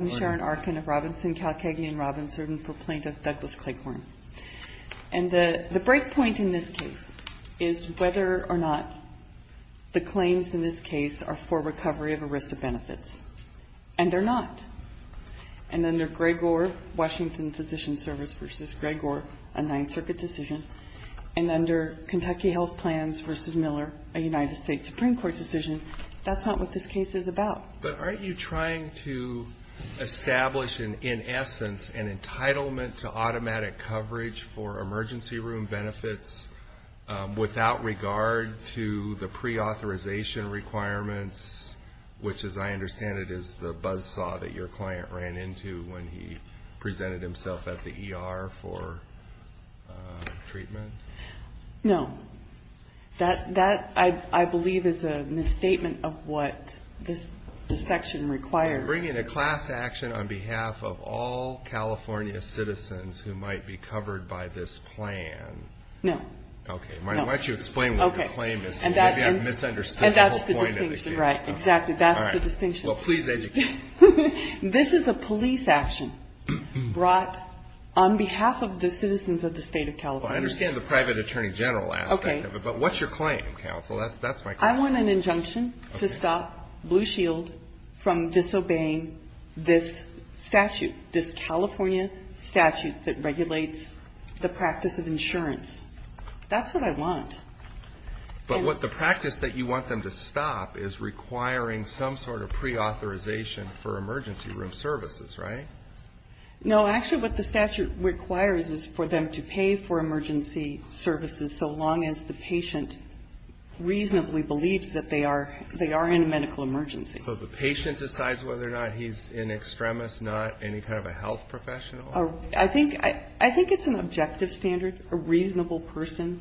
I'm Sharon Arkin of Robinson, Kalkagian & Robinson, and I'm a proponent of Douglas Clayhorn. And the breakpoint in this case is whether or not the claims in this case are for recovery of ERISA benefits. And they're not. And under Gregor, Washington Physician Service v. Gregor, a Ninth Circuit decision, and under Kentucky Health Plans v. Miller, a United States Supreme Court decision, that's not what this case is about. But aren't you trying to establish, in essence, an entitlement to automatic coverage for emergency room benefits without regard to the preauthorization requirements, which as I understand it is the buzzsaw that your client ran into when he presented himself at the ER for treatment? No. That, I believe, is a misstatement of what this section requires. You're bringing a class action on behalf of all California citizens who might be covered by this plan. No. Okay. Why don't you explain what your claim is? Maybe I misunderstood the whole point of the case. And that's the distinction. Right. Exactly. That's the distinction. Well, please educate me. This is a police action brought on behalf of the citizens of the state of California. Well, I understand the private attorney general aspect of it. Okay. But what's your claim, counsel? That's my claim. I want an injunction to stop Blue Shield from disobeying this statute, this California statute that regulates the practice of insurance. That's what I want. But what the practice that you want them to stop is requiring some sort of preauthorization for emergency room services, right? No. Actually, what the statute requires is for them to pay for emergency services so long as the patient reasonably believes that they are in a medical emergency. So the patient decides whether or not he's in extremis, not any kind of a health professional? I think it's an objective standard, a reasonable person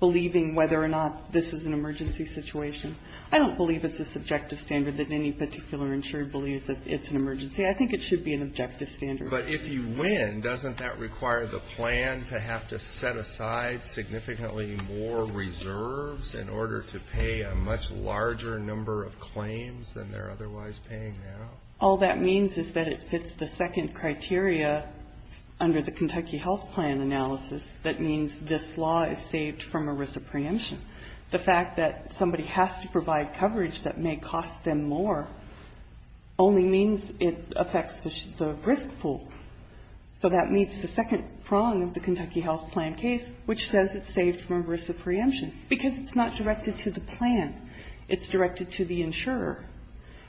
believing whether or not this is an emergency situation. I don't believe it's a subjective standard that any particular insurer believes that it's an emergency. See, I think it should be an objective standard. But if you win, doesn't that require the plan to have to set aside significantly more reserves in order to pay a much larger number of claims than they're otherwise paying now? All that means is that if it's the second criteria under the Kentucky health plan analysis, that means this law is saved from a risk of preemption. The fact that somebody has to provide coverage that may cost them more only means it affects the risk pool. So that meets the second prong of the Kentucky health plan case, which says it's saved from a risk of preemption, because it's not directed to the plan. It's directed to the insurer,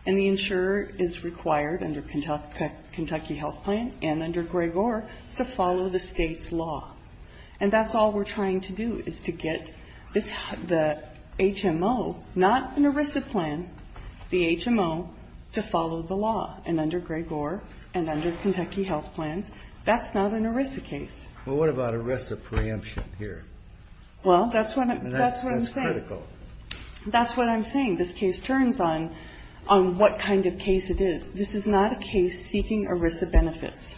and the insurer is required under Kentucky health plan and under Grigor to follow the State's law. And that's all we're trying to do is to get the HMO, not an ERISA plan, the HMO to follow the law, and under Grigor and under Kentucky health plans, that's not an ERISA case. Well, what about a risk of preemption here? Well, that's what I'm saying. That's critical. That's what I'm saying. This case turns on what kind of case it is. This is not a case seeking ERISA benefits.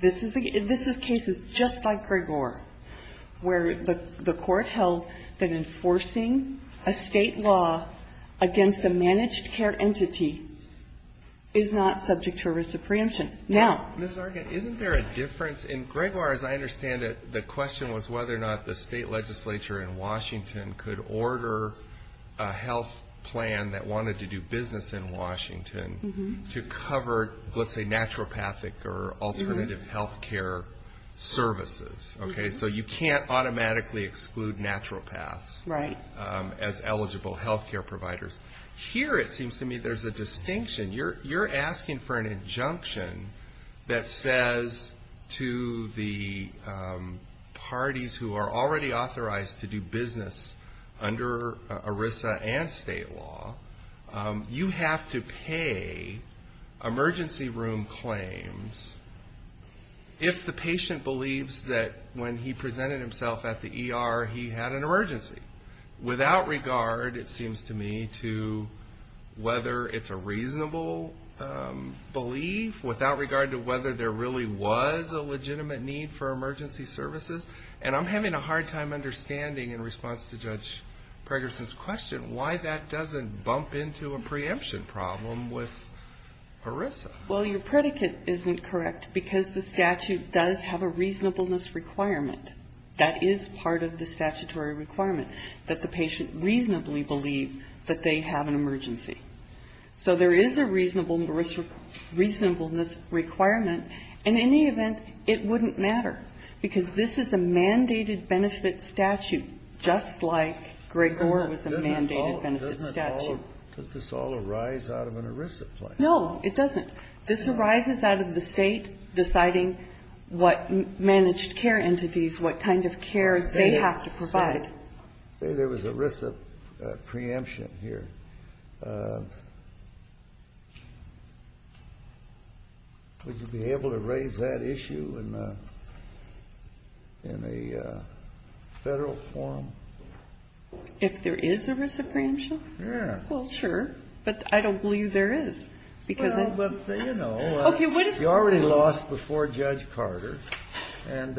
This is cases just like Grigor where the court held that enforcing a State law against a managed care entity is not subject to ERISA preemption. Now — Mr. Argan, isn't there a difference? In Grigor, as I understand it, the question was whether or not the State legislature in Washington could order a health plan that wanted to do business in Washington to cover, let's say, naturopathic or alternative health care services. Okay? So you can't automatically exclude naturopaths as eligible health care providers. Here it seems to me there's a distinction. You're asking for an injunction that says to the parties who are already authorized to do business under ERISA and State law, you have to pay emergency room claims if the patient believes that when he presented himself at the ER he had an emergency. Without regard, it seems to me, to whether it's a reasonable belief. Without regard to whether there really was a legitimate need for emergency services. And I'm having a hard time understanding, in response to Judge Pregerson's question, why that doesn't bump into a preemption problem with ERISA. Well, your predicate isn't correct because the statute does have a reasonableness requirement that is part of the statutory requirement, that the patient reasonably believe that they have an emergency. So there is a reasonableness requirement. In any event, it wouldn't matter. Because this is a mandated benefit statute, just like Gregor was a mandated benefit statute. Doesn't it all arise out of an ERISA claim? No, it doesn't. This arises out of the State deciding what managed care entities, what kind of care they have to provide. Say there was an ERISA preemption here. Would you be able to raise that issue in a Federal forum? If there is an ERISA preemption? Yeah. Well, sure. But I don't believe there is. Well, but, you know, you already lost before Judge Carter. And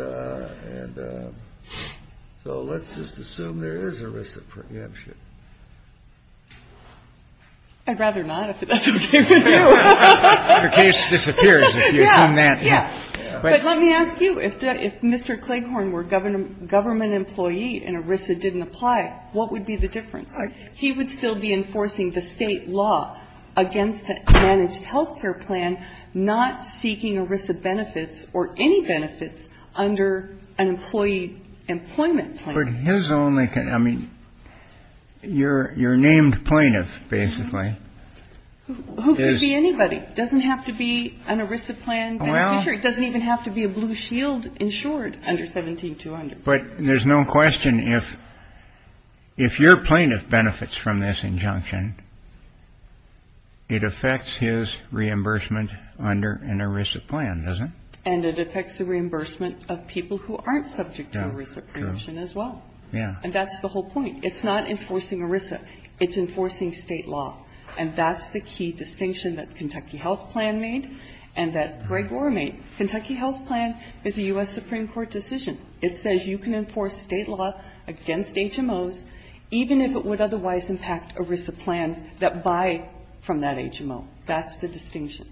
so let's just assume there is ERISA preemption. I'd rather not, if that's okay with you. The case disappears if you assume that. Yeah. But let me ask you. If Mr. Cleghorn were a government employee and ERISA didn't apply, what would be the difference? He would still be enforcing the State law against a managed health care plan, not seeking ERISA benefits or any benefits under an employee employment plan. But his only concern, I mean, you're named plaintiff, basically. Who could be anybody? It doesn't have to be an ERISA plan. Well. It doesn't even have to be a blue shield insured under 17-200. But there's no question if your plaintiff benefits from this injunction, it affects his reimbursement under an ERISA plan, does it? And it affects the reimbursement of people who aren't subject to ERISA preemption as well. Yeah. And that's the whole point. It's not enforcing ERISA. It's enforcing State law. And that's the key distinction that Kentucky Health Plan made and that Greg Rohr made. Kentucky Health Plan is a U.S. Supreme Court decision. It says you can enforce State law against HMOs, even if it would otherwise impact ERISA plans that buy from that HMO. That's the distinction.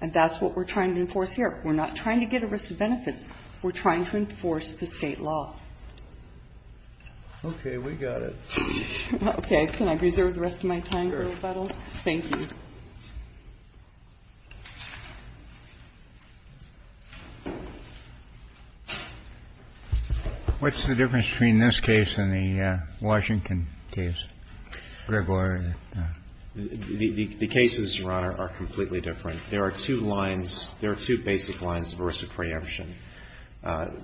And that's what we're trying to enforce here. We're not trying to get ERISA benefits. We're trying to enforce the State law. Okay. We got it. Okay. Can I reserve the rest of my time for rebuttal? Thank you. What's the difference between this case and the Washington case, Greg Rohr? The cases, Your Honor, are completely different. There are two lines. There are two basic lines of ERISA preemption.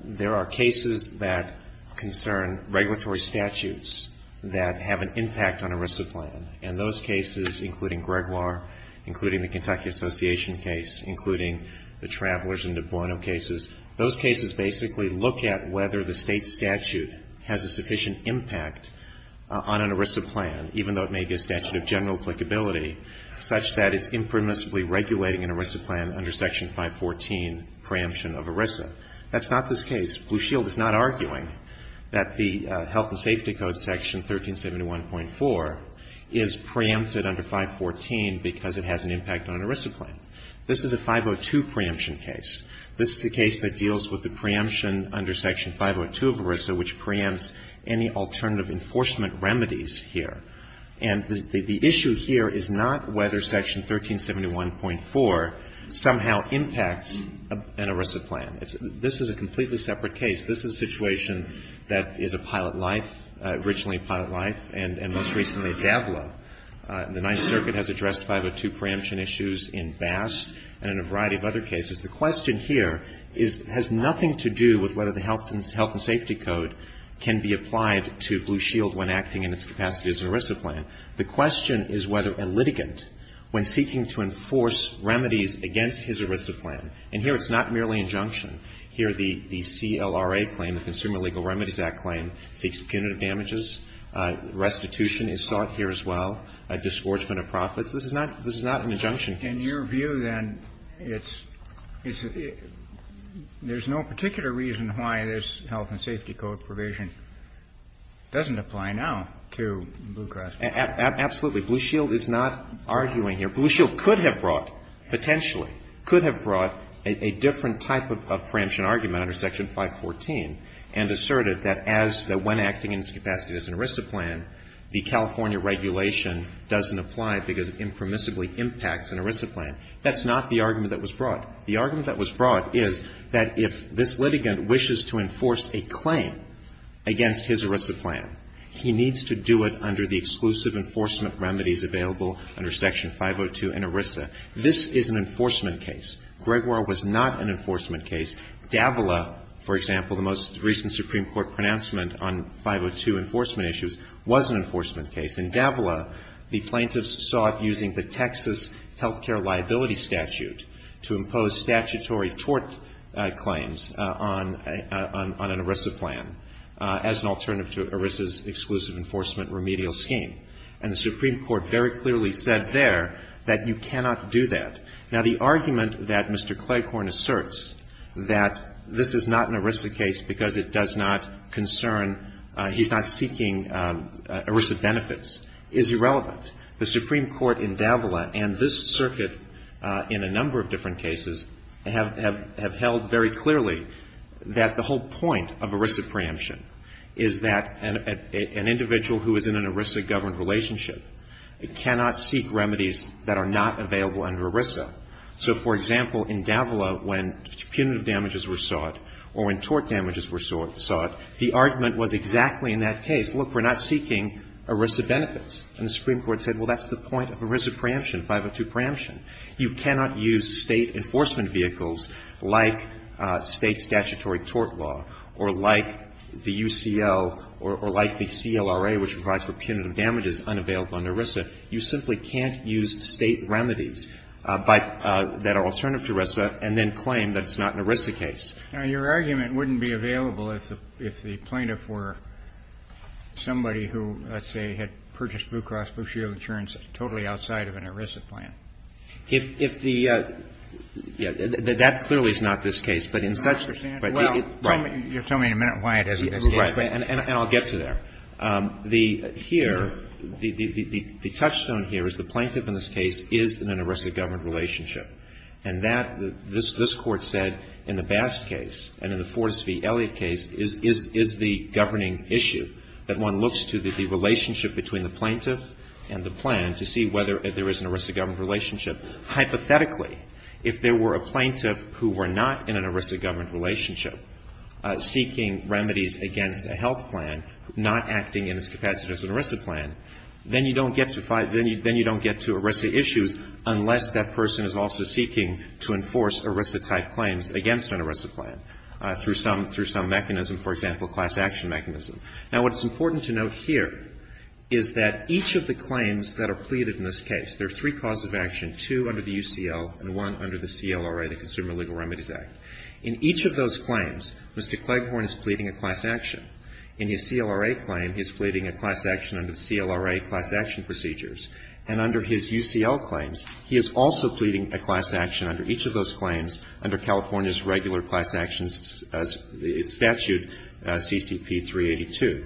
There are cases that concern regulatory statutes that have an impact on ERISA plan. And those cases, including Greg Rohr, including the Kentucky Association case, including the Travelers and De Buono cases, those cases basically look at whether the State statute has a sufficient impact on an ERISA plan, even though it may be a statute of general applicability, such that it's impermissibly regulating an ERISA plan under Section 514, preemption of ERISA. That's not this case. Blue Shield is not arguing that the Health and Safety Code Section 1371.4 is preempted under 514 because it has an impact on an ERISA plan. This is a 502 preemption case. This is a case that deals with the preemption under Section 502 of ERISA, which preempts any alternative enforcement remedies here. And the issue here is not whether Section 1371.4 somehow impacts an ERISA plan. This is a completely separate case. This is a situation that is a pilot life, originally a pilot life, and most recently a DABLA. The Ninth Circuit has addressed 502 preemption issues in Bast and in a variety of other cases. The question here has nothing to do with whether the Health and Safety Code can be applied to Blue Shield when acting in its capacity as an ERISA plan. The question is whether a litigant, when seeking to enforce remedies against his ERISA plan And here it's not merely injunction. Here the CLRA claim, the Consumer Legal Remedies Act claim, seeks punitive damages. Restitution is sought here as well. A disgorgement of profits. This is not an injunction case. Kennedy. In your view, then, it's no particular reason why this Health and Safety Code provision doesn't apply now to Blue Cross Blue Shield. Absolutely. Blue Shield is not arguing here. Blue Shield could have brought, potentially, could have brought a different type of preemption argument under Section 514 and asserted that as, that when acting in its capacity as an ERISA plan, the California regulation doesn't apply because it impermissibly impacts an ERISA plan. That's not the argument that was brought. The argument that was brought is that if this litigant wishes to enforce a claim against his ERISA plan, he needs to do it under the exclusive enforcement remedies available under Section 502 and ERISA. This is an enforcement case. Gregoire was not an enforcement case. Davila, for example, the most recent Supreme Court pronouncement on 502 enforcement issues was an enforcement case. In Davila, the plaintiffs sought using the Texas health care liability statute to impose statutory tort claims on an ERISA plan as an alternative to ERISA's exclusive enforcement remedial scheme. And the Supreme Court very clearly said there that you cannot do that. Now, the argument that Mr. Claighorn asserts that this is not an ERISA case because it does not concern, he's not seeking ERISA benefits is irrelevant. The Supreme Court in Davila and this circuit in a number of different cases have held very clearly that the whole point of ERISA preemption is that an individual who is in an ERISA-governed relationship cannot seek remedies that are not available under ERISA. So, for example, in Davila, when punitive damages were sought or when tort damages were sought, the argument was exactly in that case. Look, we're not seeking ERISA benefits. And the Supreme Court said, well, that's the point of ERISA preemption, 502 preemption. You cannot use State enforcement vehicles like State statutory tort law or like the kind of damages unavailable under ERISA. You simply can't use State remedies that are alternative to ERISA and then claim that it's not an ERISA case. Now, your argument wouldn't be available if the plaintiff were somebody who, let's say, had purchased Blue Cross Blue Shield insurance totally outside of an ERISA plan. If the – that clearly is not this case. But in such a – Well, you'll tell me in a minute why it isn't. Right. And I'll get to there. The – here, the touchstone here is the plaintiff in this case is in an ERISA-governed relationship. And that – this Court said in the Bass case and in the Fortas v. Elliot case is the governing issue, that one looks to the relationship between the plaintiff and the plan to see whether there is an ERISA-governed relationship. Hypothetically, if there were a plaintiff who were not in an ERISA-governed relationship, seeking remedies against a health plan, not acting in its capacity as an ERISA plan, then you don't get to – then you don't get to ERISA issues unless that person is also seeking to enforce ERISA-type claims against an ERISA plan through some – through some mechanism, for example, class action mechanism. Now, what's important to note here is that each of the claims that are pleaded in this case, there are three causes of action, two under the UCL and one under the CLRA, the Consumer Legal Remedies Act. In each of those claims, Mr. Cleghorn is pleading a class action. In his CLRA claim, he's pleading a class action under the CLRA class action procedures. And under his UCL claims, he is also pleading a class action under each of those claims under California's regular class actions statute, CCP 382.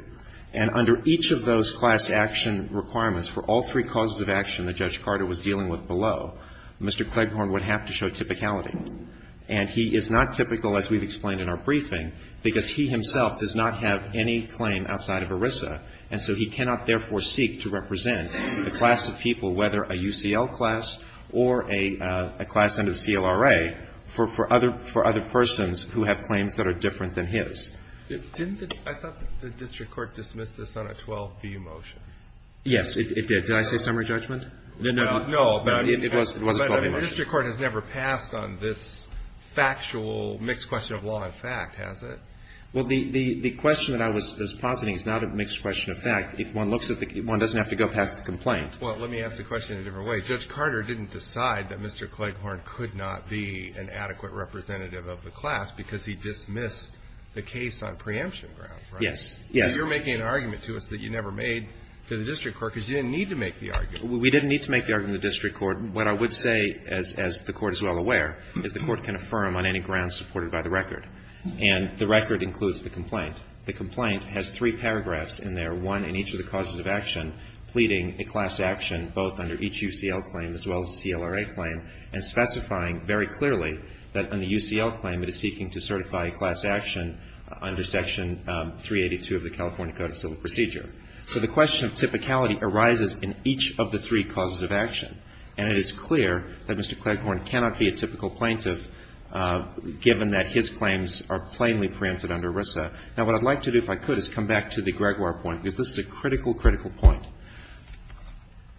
And under each of those class action requirements for all three causes of action that Judge Carter was dealing with below, Mr. Cleghorn would have to show typicality. And he is not typical, as we've explained in our briefing, because he himself does not have any claim outside of ERISA. And so he cannot, therefore, seek to represent the class of people, whether a UCL class or a class under the CLRA, for other – for other persons who have claims that are different than his. Didn't the – I thought the district court dismissed this on a 12B motion. Yes, it did. No, but it was a 12B motion. The district court has never passed on this factual mixed question of law and fact, has it? Well, the question that I was positing is not a mixed question of fact. If one looks at the – one doesn't have to go past the complaint. Well, let me ask the question in a different way. Judge Carter didn't decide that Mr. Cleghorn could not be an adequate representative of the class because he dismissed the case on preemption grounds, right? Yes. Yes. You're making an argument to us that you never made to the district court because you didn't need to make the argument. We didn't need to make the argument in the district court. What I would say, as the Court is well aware, is the Court can affirm on any grounds supported by the record, and the record includes the complaint. The complaint has three paragraphs in there, one in each of the causes of action pleading a class action, both under each UCL claim as well as the CLRA claim, and specifying very clearly that on the UCL claim it is seeking to certify a class action under Section 382 of the California Code of Civil Procedure. So the question of typicality arises in each of the three causes of action, and it is clear that Mr. Cleghorn cannot be a typical plaintiff given that his claims are plainly preempted under RISA. Now, what I'd like to do, if I could, is come back to the Gregoire point, because this is a critical, critical point.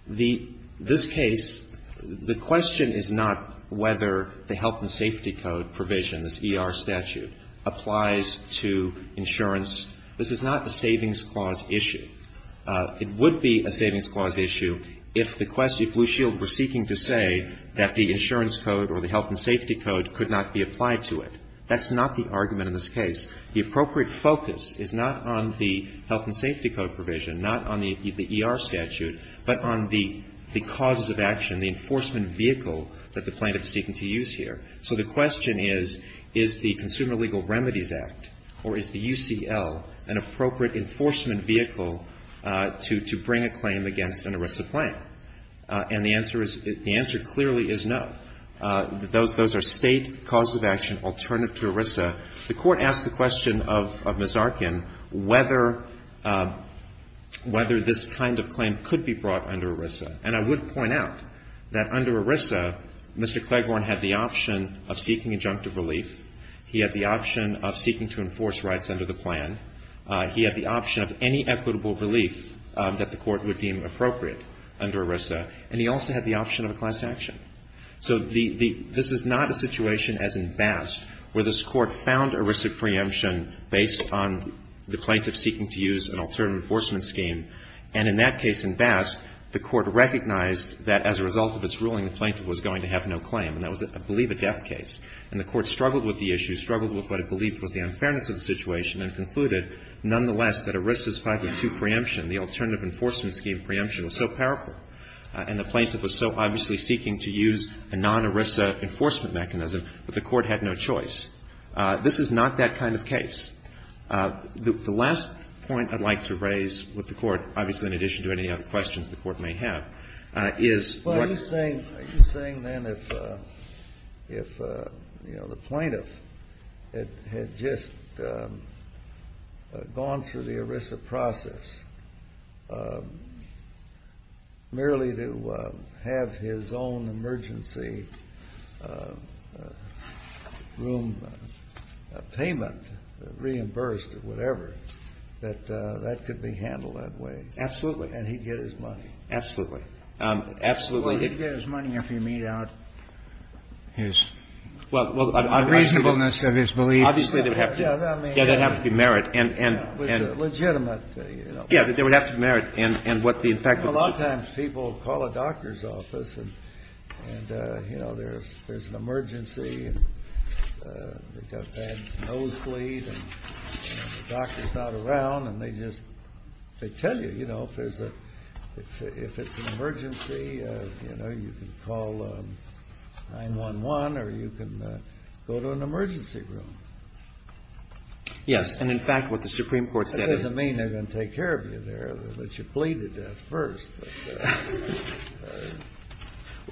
This case, the question is not whether the health and safety code provision, this ER statute, applies to insurance. This is not a savings clause issue. It would be a savings clause issue if the question, if Blue Shield were seeking to say that the insurance code or the health and safety code could not be applied to it. That's not the argument in this case. The appropriate focus is not on the health and safety code provision, not on the ER statute, but on the causes of action, the enforcement vehicle that the plaintiff is seeking to use here. So the question is, is the Consumer Legal Remedies Act or is the UCL an appropriate enforcement vehicle to bring a claim against an ERISA claim? And the answer is, the answer clearly is no. Those are State causes of action alternative to ERISA. The Court asked the question of Ms. Arkin whether this kind of claim could be brought under ERISA. And I would point out that under ERISA, Mr. Cleghorn had the option of seeking injunctive relief. He had the option of seeking to enforce rights under the plan. He had the option of any equitable relief that the Court would deem appropriate under ERISA. And he also had the option of a class action. So this is not a situation as in Bast where this Court found ERISA preemption based on the plaintiff seeking to use an alternative enforcement scheme. And in that case in Bast, the Court recognized that as a result of its ruling, the plaintiff was going to have no claim. And that was, I believe, a death case. And the Court struggled with the issue, struggled with what it believed was the ERISA's 502 preemption, the alternative enforcement scheme preemption, was so powerful and the plaintiff was so obviously seeking to use a non-ERISA enforcement mechanism, but the Court had no choice. This is not that kind of case. The last point I'd like to raise with the Court, obviously in addition to any other questions the Court may have, is what the plaintiff had just said. If the plaintiff had gone through the ERISA process merely to have his own emergency room payment reimbursed or whatever, that that could be handled that way. Absolutely. And he'd get his money. Absolutely. Absolutely. Well, he'd get his money after he made out his reasonableness of his beliefs. Obviously, there would have to be merit. Legitimate, you know. Yeah, there would have to be merit. A lot of times people call a doctor's office and, you know, there's an emergency and they've got bad nosebleed and the doctor's not around and they just, they tell you, you know, if there's a, if it's an emergency, you know, you can call 911 or you can go to an emergency room. Yes. And, in fact, what the Supreme Court said is that. That doesn't mean they're going to take care of you there. They should plead to death first.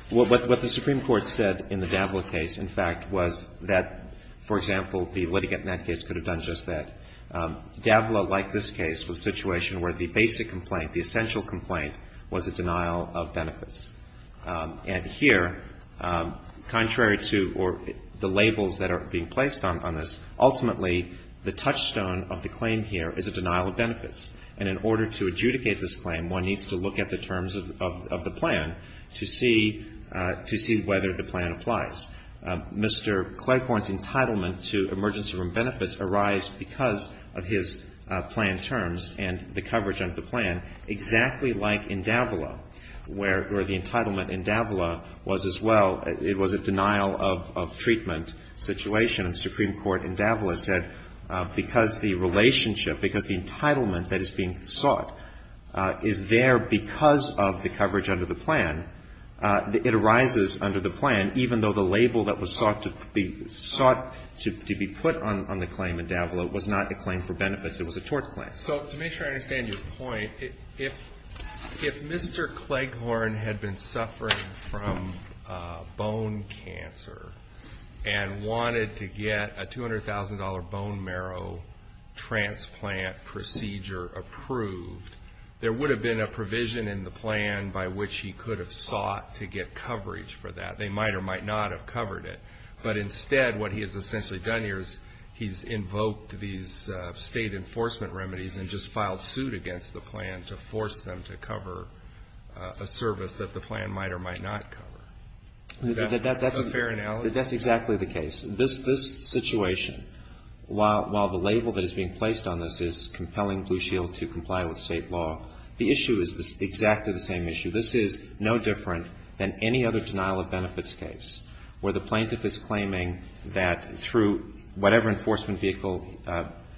What the Supreme Court said in the Dabla case, in fact, was that, for example, the litigant in that case could have done just that. Dabla, like this case, was a situation where the basic complaint, the essential complaint, was a denial of benefits. And here, contrary to, or the labels that are being placed on this, ultimately, the touchstone of the claim here is a denial of benefits. And in order to adjudicate this claim, one needs to look at the terms of the plan to see whether the plan applies. Mr. Cleghorn's entitlement to emergency room benefits arise because of his plan terms and the coverage of the plan, exactly like in Dabla, where the entitlement in Dabla was as well. It was a denial of treatment situation. And the Supreme Court in Dabla said because the relationship, because the entitlement that is being sought is there because of the coverage under the plan, it arises under the plan, even though the label that was sought to be put on the claim in Dabla was not a claim for benefits. It was a tort claim. So, to make sure I understand your point, if Mr. Cleghorn had been suffering from bone cancer and wanted to get a $200,000 bone marrow transplant procedure approved, there would have been a provision in the plan by which he could have sought to get coverage for that. They might or might not have covered it. But instead, what he has essentially done here is he's invoked these state enforcement remedies and just filed suit against the plan to force them to cover a service that the plan might or might not cover. Is that a fair analogy? That's exactly the case. This situation, while the label that is being placed on this is compelling Blue Shield to comply with state law, the issue is exactly the same issue. This is no different than any other denial of benefits case where the plaintiff is claiming that through whatever enforcement vehicle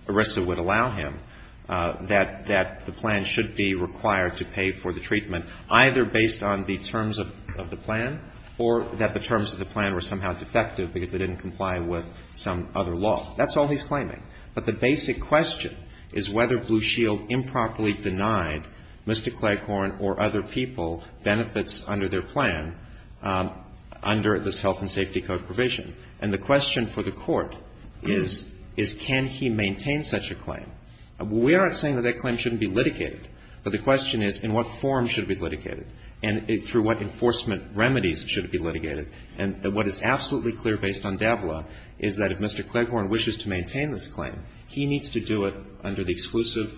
ERISA would allow him, that the plan should be required to pay for the treatment, either based on the terms of the plan or that the terms of the plan were somehow defective because they didn't comply with some other law. That's all he's claiming. But the basic question is whether Blue Shield improperly denied Mr. Cleghorn or other people benefits under their plan under this health and safety code provision. And the question for the Court is, is can he maintain such a claim? We aren't saying that that claim shouldn't be litigated, but the question is in what form should it be litigated and through what enforcement remedies should it be litigated. And what is absolutely clear based on DABLA is that if Mr. Cleghorn wishes to maintain this claim, he needs to do it under the exclusive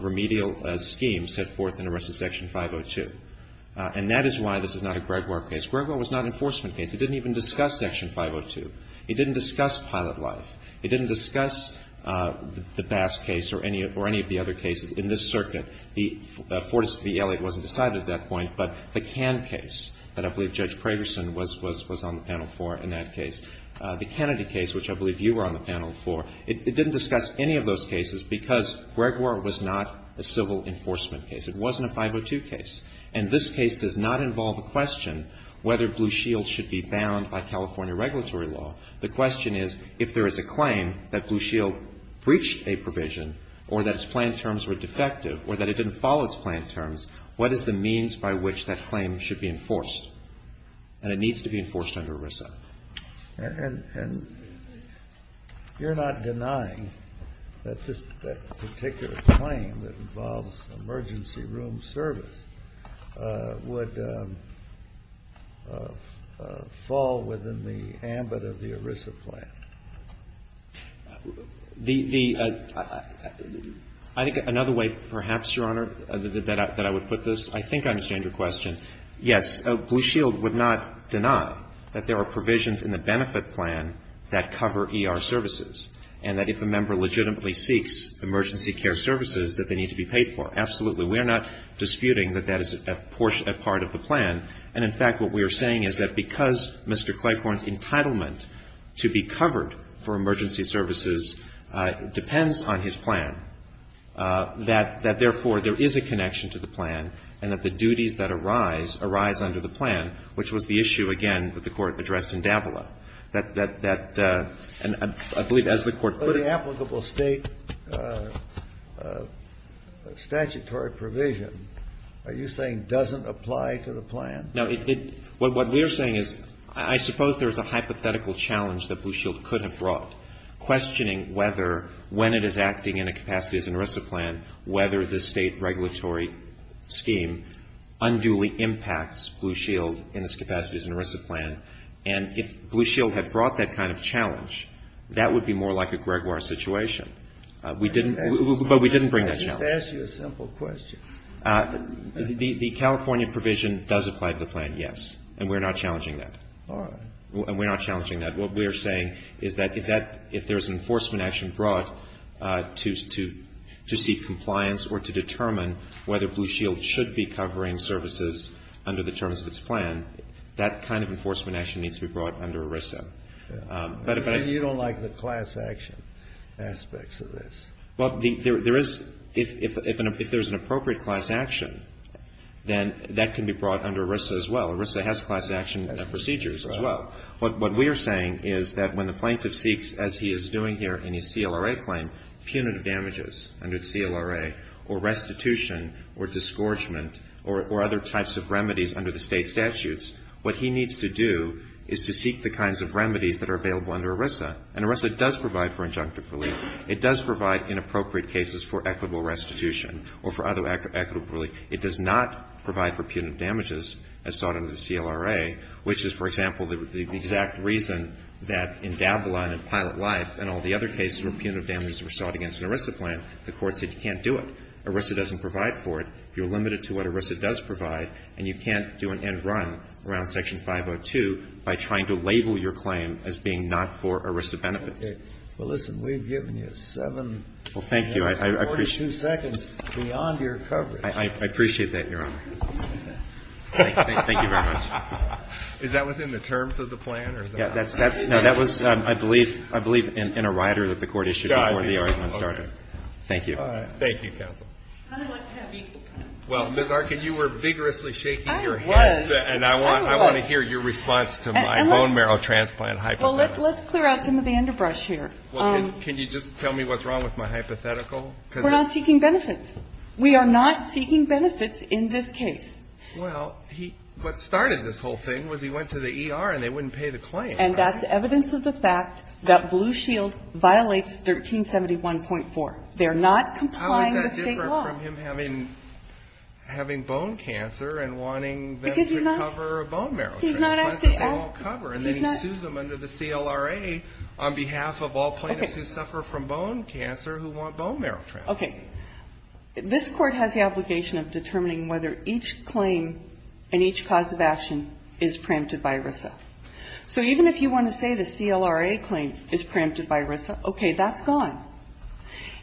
remedial scheme set forth in ERISA's section 502. And that is why this is not a Gregoire case. Gregoire was not an enforcement case. It didn't even discuss section 502. It didn't discuss pilot life. It didn't discuss the Bass case or any of the other cases in this circuit. The Fortas v. Elliott wasn't decided at that point, but the Cann case that I believe Judge Pragerson was on the panel for in that case. The Kennedy case, which I believe you were on the panel for, it didn't discuss any of those cases because Gregoire was not a civil enforcement case. It wasn't a 502 case. And this case does not involve a question whether Blue Shield should be bound by California regulatory law. The question is if there is a claim that Blue Shield breached a provision or that its plan terms were defective or that it didn't follow its plan terms, what is the means by which that claim should be enforced? And it needs to be enforced under ERISA. And you're not denying that this particular claim that involves emergency room service would fall within the ambit of the ERISA plan? The other way perhaps, Your Honor, that I would put this, I think I understand your question. Yes, Blue Shield would not deny that there are provisions in the benefit plan that cover ER services and that if a member legitimately seeks emergency care services that they need to be paid for. Absolutely. We are not disputing that that is a portion, a part of the plan. And, in fact, what we are saying is that because Mr. Clayporn's entitlement to be covered for emergency services depends on his plan, that therefore there is a reason for the claim to arise under the plan, which was the issue, again, that the Court addressed in Davila, that, I believe, as the Court put it. But an applicable State statutory provision, are you saying doesn't apply to the plan? No. What we are saying is I suppose there is a hypothetical challenge that Blue Shield could have brought, questioning whether when it is acting in a capacity as an ERISA plan, whether the State regulatory scheme unduly impacts Blue Shield in its capacity as an ERISA plan. And if Blue Shield had brought that kind of challenge, that would be more like a Gregoire situation. We didn't, but we didn't bring that challenge. Let me just ask you a simple question. The California provision does apply to the plan, yes. And we are not challenging that. All right. And we are not challenging that. What we are saying is that if that, if there is an enforcement action brought to seek compliance or to determine whether Blue Shield should be covering services under the terms of its plan, that kind of enforcement action needs to be brought under ERISA. You don't like the class action aspects of this. Well, there is, if there is an appropriate class action, then that can be brought under ERISA as well. ERISA has class action procedures as well. What we are saying is that when the plaintiff seeks, as he is doing here in his CLRA claim, punitive damages under the CLRA or restitution or disgorgement or other types of remedies under the State statutes, what he needs to do is to seek the kinds of remedies that are available under ERISA. And ERISA does provide for injunctive relief. It does provide inappropriate cases for equitable restitution or for other equitable relief. It does not provide for punitive damages as sought under the CLRA, which is, for example, the exact reason that in Dablon and Pilot Life and all the other cases where punitive damages were sought against an ERISA plan, the Court said you can't do it. ERISA doesn't provide for it. You're limited to what ERISA does provide, and you can't do an end run around Section 502 by trying to label your claim as being not for ERISA benefits. Okay. Well, listen, we've given you 7 minutes and 42 seconds beyond your coverage. I appreciate that, Your Honor. Thank you very much. Is that within the terms of the plan? No, that was, I believe, in a rider that the Court issued before the argument started. Thank you. Thank you, counsel. Well, Ms. Arkin, you were vigorously shaking your head, and I want to hear your response to my bone marrow transplant hypothetical. Well, let's clear out some of the underbrush here. Can you just tell me what's wrong with my hypothetical? We're not seeking benefits. We are not seeking benefits in this case. Well, he, what started this whole thing was he went to the ER and they wouldn't pay the claim. And that's evidence of the fact that Blue Shield violates 1371.4. They're not complying with State law. How is that different from him having bone cancer and wanting them to cover a bone marrow transplant that they won't cover? And then he sues them under the CLRA on behalf of all plaintiffs who suffer from bone cancer who want bone marrow transplants. Okay. This Court has the obligation of determining whether each claim and each cause of action is preempted by ERISA. So even if you want to say the CLRA claim is preempted by ERISA, okay, that's gone.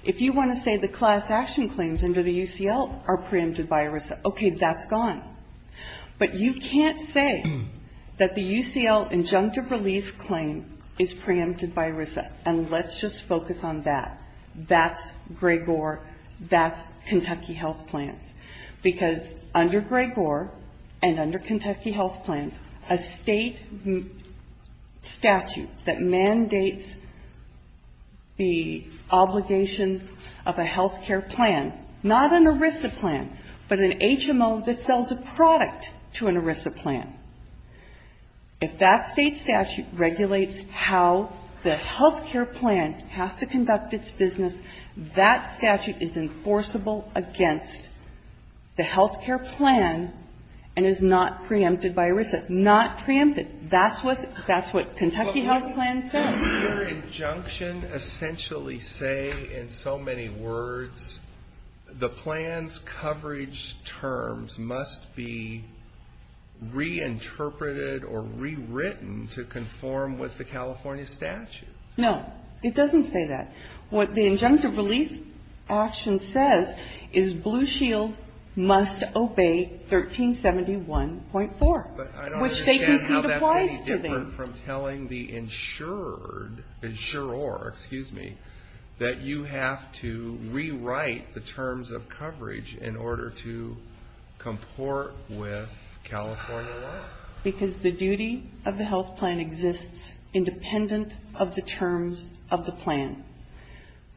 If you want to say the class action claims under the UCL are preempted by ERISA, okay, that's gone. But you can't say that the UCL injunctive relief claim is preempted by ERISA, and let's just focus on that. That's Gregor, that's Kentucky Health Plans. Because under Gregor and under Kentucky Health Plans, a State statute that mandates the obligations of a health care plan, not an ERISA plan, but an HMO that sells a product to an ERISA plan, if that State statute regulates how the health care plan has to conduct its business, that statute is enforceable against the health care plan and is not preempted by ERISA. Not preempted. That's what Kentucky Health Plans says. But your injunction essentially say in so many words the plan's coverage terms must be reinterpreted or rewritten to conform with the California statute. No. It doesn't say that. What the injunctive relief action says is Blue Shield must obey 1371.4. But I don't understand how that's any different from telling the insured, insurer, excuse me, that you have to rewrite the terms of coverage in order to comport with California law. Because the duty of the health plan exists independent of the terms of the plan.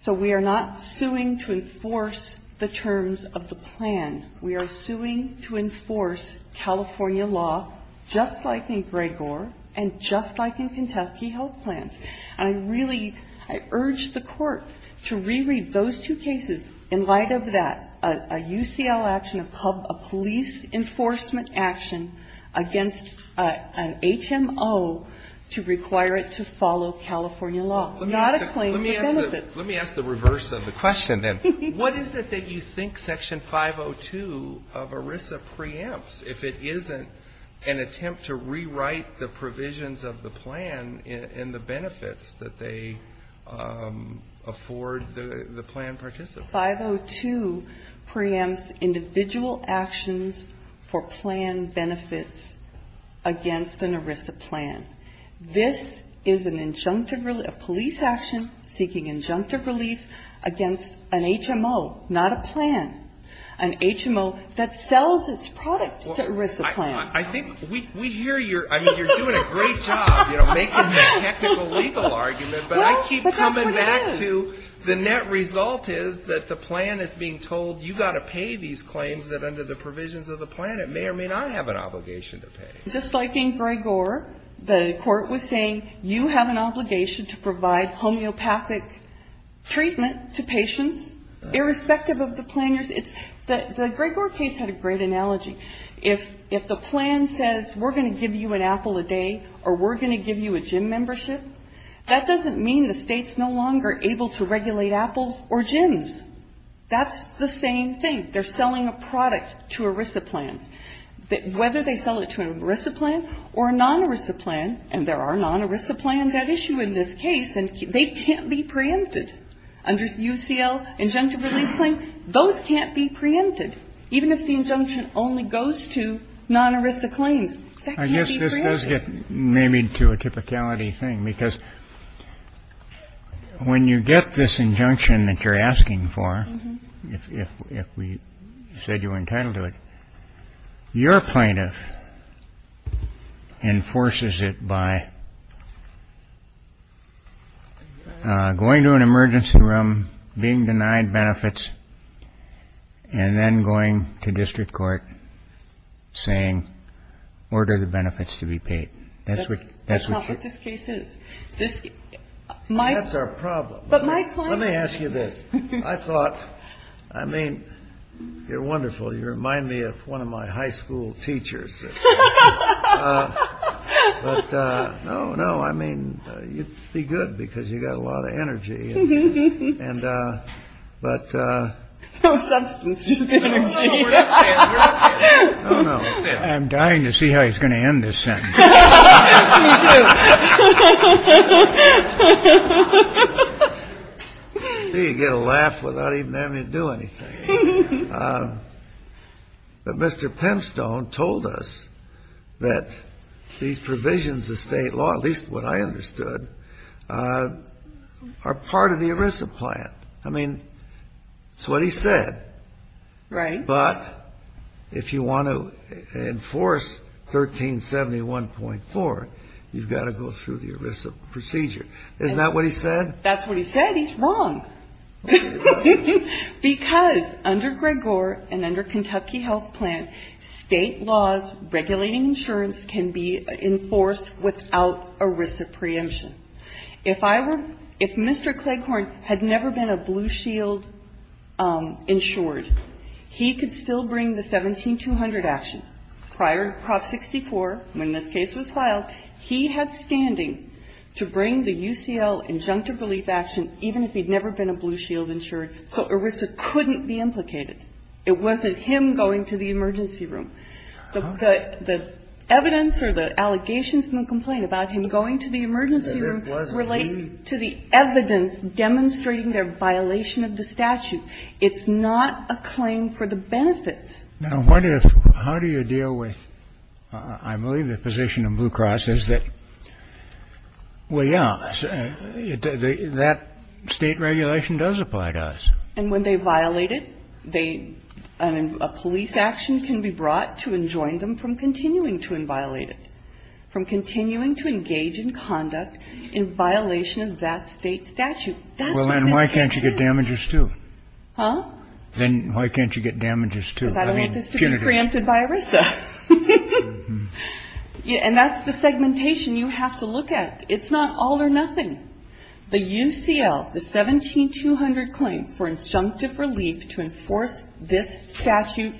So we are not suing to enforce the terms of the plan. We are suing to enforce California law just like in Gregor and just like in Kentucky Health Plans. And I really, I urge the Court to reread those two cases in light of that, a UCL action, a police enforcement action against an HMO to require it to follow California law. Not a claim for benefits. Let me ask the reverse of the question, then. What is it that you think Section 502 of ERISA preempts if it isn't an attempt to rewrite the provisions of the plan and the benefits that they afford the plan participants? Well, Section 502 preempts individual actions for plan benefits against an ERISA plan. This is an injunctive, a police action seeking injunctive relief against an HMO, not a plan. An HMO that sells its product to ERISA plans. I think we hear your, I mean, you're doing a great job, you know, making the technical legal argument. But I keep coming back to the net result is that the plan is being told you've got to pay these claims that under the provisions of the plan it may or may not have an obligation to pay. Just like in Gregor, the Court was saying you have an obligation to provide homeopathic treatment to patients, irrespective of the plan. The Gregor case had a great analogy. If the plan says we're going to give you an apple a day or we're going to give you a gym membership, that doesn't mean the State's no longer able to regulate apples or gyms. That's the same thing. They're selling a product to ERISA plans. Whether they sell it to an ERISA plan or a non-ERISA plan, and there are non-ERISA plans at issue in this case, and they can't be preempted. Under UCL injunctive relief claim, those can't be preempted. Even if the injunction only goes to non-ERISA claims, that can't be preempted. It does get maybe to a typicality thing, because when you get this injunction that you're asking for, if we said you were entitled to it, your plaintiff enforces it by going to an emergency room, being denied benefits, and then going to district court saying, order the benefits to be paid. That's what this case is. That's our problem. Let me ask you this. I thought, I mean, you're wonderful. You remind me of one of my high school teachers. No, no. I mean, you'd be good because you got a lot of energy. And but I'm dying to see how he's going to end this sentence. You get a laugh without even having to do anything. But Mr. Pemstone told us that these provisions of state law, at least what I understood, are part of the ERISA plan. I mean, that's what he said. Right. But if you want to enforce 1371.4, you've got to go through the ERISA procedure. Isn't that what he said? That's what he said. He's wrong. Because under Gregor and under Kentucky Health Plan, state laws regulating insurance can be enforced without ERISA preemption. If I were, if Mr. Cleghorn had never been a Blue Shield insured, he could still bring the 17200 action. Prior to Prop 64, when this case was filed, he had standing to bring the UCL injunctive relief action even if he'd never been a Blue Shield insured. So ERISA couldn't be implicated. It wasn't him going to the emergency room. The evidence or the allegations in the complaint about him going to the emergency room relate to the evidence demonstrating their violation of the statute. It's not a claim for the benefits. Now, what if, how do you deal with, I believe the position of Blue Cross is that, well, yeah, that state regulation does apply to us. And when they violate it, they, a police action can be brought to enjoin them from continuing to inviolate it, from continuing to engage in conduct in violation of that state statute. Well, then why can't you get damages, too? Huh? Then why can't you get damages, too? Because I don't want this to be preempted by ERISA. And that's the segmentation you have to look at. It's not all or nothing. The UCL, the 17200 claim for injunctive relief to enforce this statute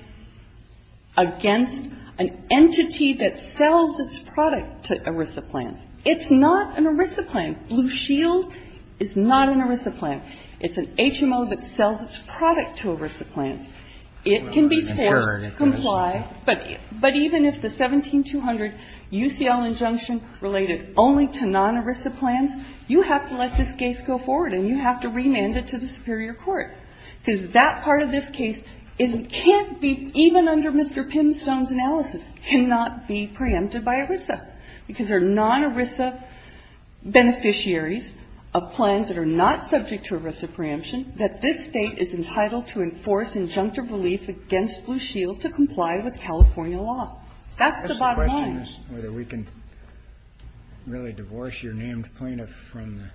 against an entity that sells its product to ERISA plans. It's not an ERISA plan. Blue Shield is not an ERISA plan. It's an HMO that sells its product to ERISA plans. It can be failed to comply. But even if the 17200 UCL injunction related only to non-ERISA plans, you have to let this case go forward and you have to remand it to the superior court, because that part of this case can't be, even under Mr. Pimstone's analysis, cannot be preempted by ERISA, because there are non-ERISA beneficiaries of plans that are not subject to ERISA preemption, that this State is entitled to enforce injunctive relief against Blue Shield to comply with California law. That's the bottom line. Kennedy. That's the question, is whether we can really divorce your named plaintiff from the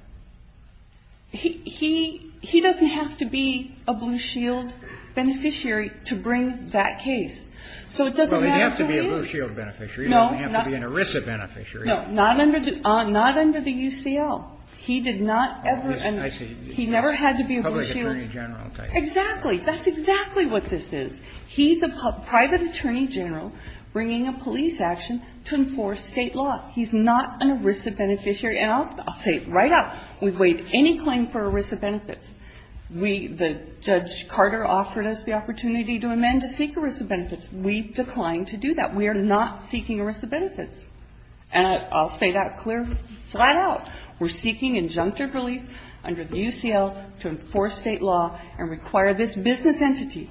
---- He doesn't have to be a Blue Shield beneficiary to bring that case. So it doesn't matter who he is. Well, he'd have to be a Blue Shield beneficiary. He doesn't have to be an ERISA beneficiary. No, not under the UCL. He did not ever ---- Oh, I see. He never had to be a Blue Shield. Public attorney general, okay. Exactly. That's exactly what this is. He's a private attorney general bringing a police action to enforce State law. He's not an ERISA beneficiary. And I'll say it right out. We've waived any claim for ERISA benefits. We ---- Judge Carter offered us the opportunity to amend to seek ERISA benefits. We declined to do that. We are not seeking ERISA benefits. And I'll say that clear, flat out. We're seeking injunctive relief under the UCL to enforce State law and require this business entity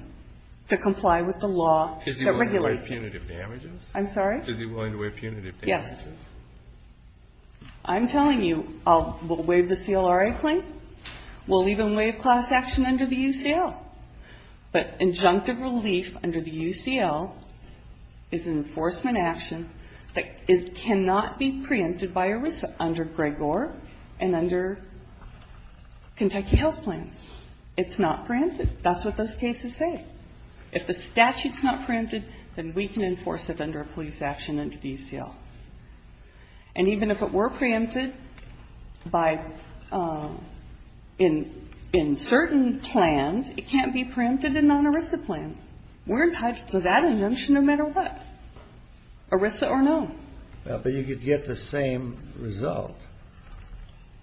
to comply with the law that regulates it. Is he willing to waive punitive damages? I'm sorry? Is he willing to waive punitive damages? Yes. I'm telling you we'll waive the CLRA claim. We'll even waive class action under the UCL. But injunctive relief under the UCL is an enforcement action that cannot be preempted by ERISA under Gregor and under Kentucky Health Plans. It's not preempted. That's what those cases say. If the statute's not preempted, then we can enforce it under a police action under the UCL. And even if it were preempted by ---- in certain plans, it can't be preempted in non-ERISA plans. We're entitled to that injunction no matter what, ERISA or no. But you could get the same result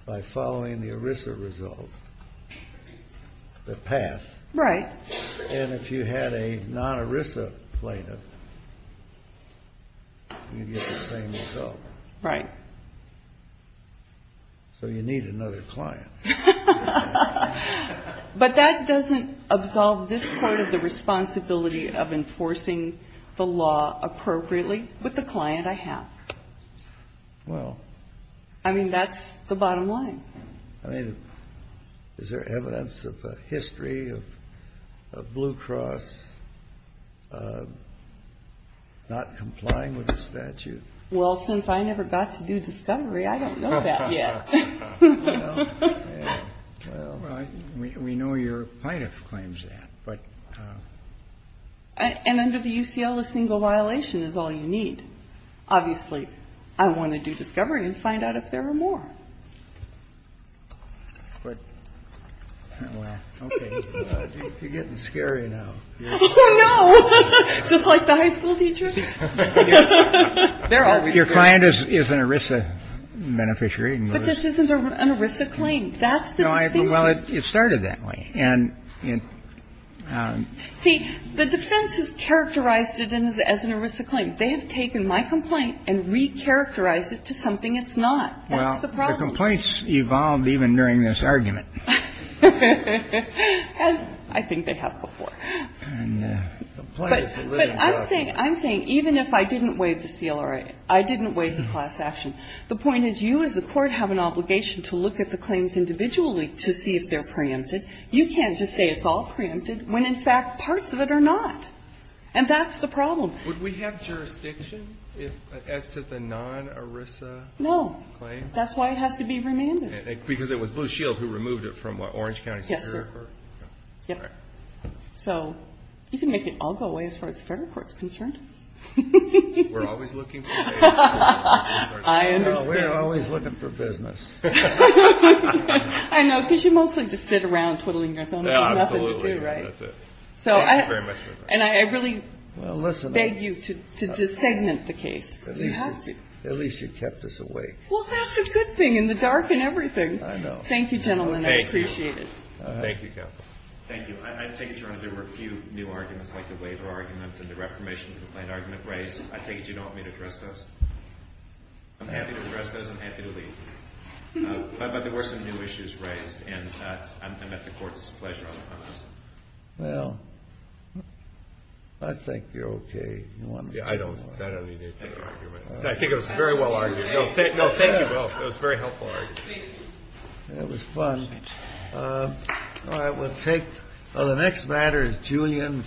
by following the ERISA result, the path. Right. And if you had a non-ERISA plaintiff, you'd get the same result. Right. So you need another client. But that doesn't absolve this part of the responsibility of enforcing the law appropriately with the client I have. Well. I mean, that's the bottom line. I mean, is there evidence of a history of Blue Cross not complying with the statute? Well, since I never got to do discovery, I don't know that yet. Well, we know your plaintiff claims that. And under the UCL, a single violation is all you need. Obviously, I want to do discovery and find out if there are more. Okay. You're getting scary now. Oh, no. Just like the high school teacher. Your client is an ERISA beneficiary. But this isn't an ERISA claim. That's the distinction. Well, it started that way. See, the defense has characterized it as an ERISA claim. They have taken my complaint and recharacterized it to something it's not. That's the problem. Well, the complaints evolved even during this argument. As I think they have before. But I'm saying, even if I didn't waive the CLRA, I didn't waive the class action, the point is you as a court have an obligation to look at the claims individually to see if they're preempted. You can't just say it's all preempted when, in fact, parts of it are not. And that's the problem. Would we have jurisdiction as to the non-ERISA claim? No. That's why it has to be remanded. Because it was Blue Shield who removed it from Orange County Superior Court? Yes, sir. All right. So you can make it all go away as far as the fair court is concerned. We're always looking for business. I understand. No, we're always looking for business. I know, because you mostly just sit around twiddling your thumbs. There's nothing to do, right? Absolutely. That's it. Thank you very much for that. And I really beg you to desegment the case. You have to. At least you kept us awake. Well, that's a good thing in the dark and everything. I know. Thank you, gentlemen. I appreciate it. Thank you, Kathleen. Thank you. I take it, Your Honor, there were a few new arguments like the waiver argument and the reformation complaint argument raised. I take it you don't want me to address those? I'm happy to address those. I'm happy to leave. But there were some new issues raised, and I'm at the court's pleasure on those. Well, I think you're okay. You don't want me to do more. I don't need any further argument. I think it was very well argued. No, thank you both. It was a very helpful argument. It was fun. All right. We'll take the next matter. It's Julian.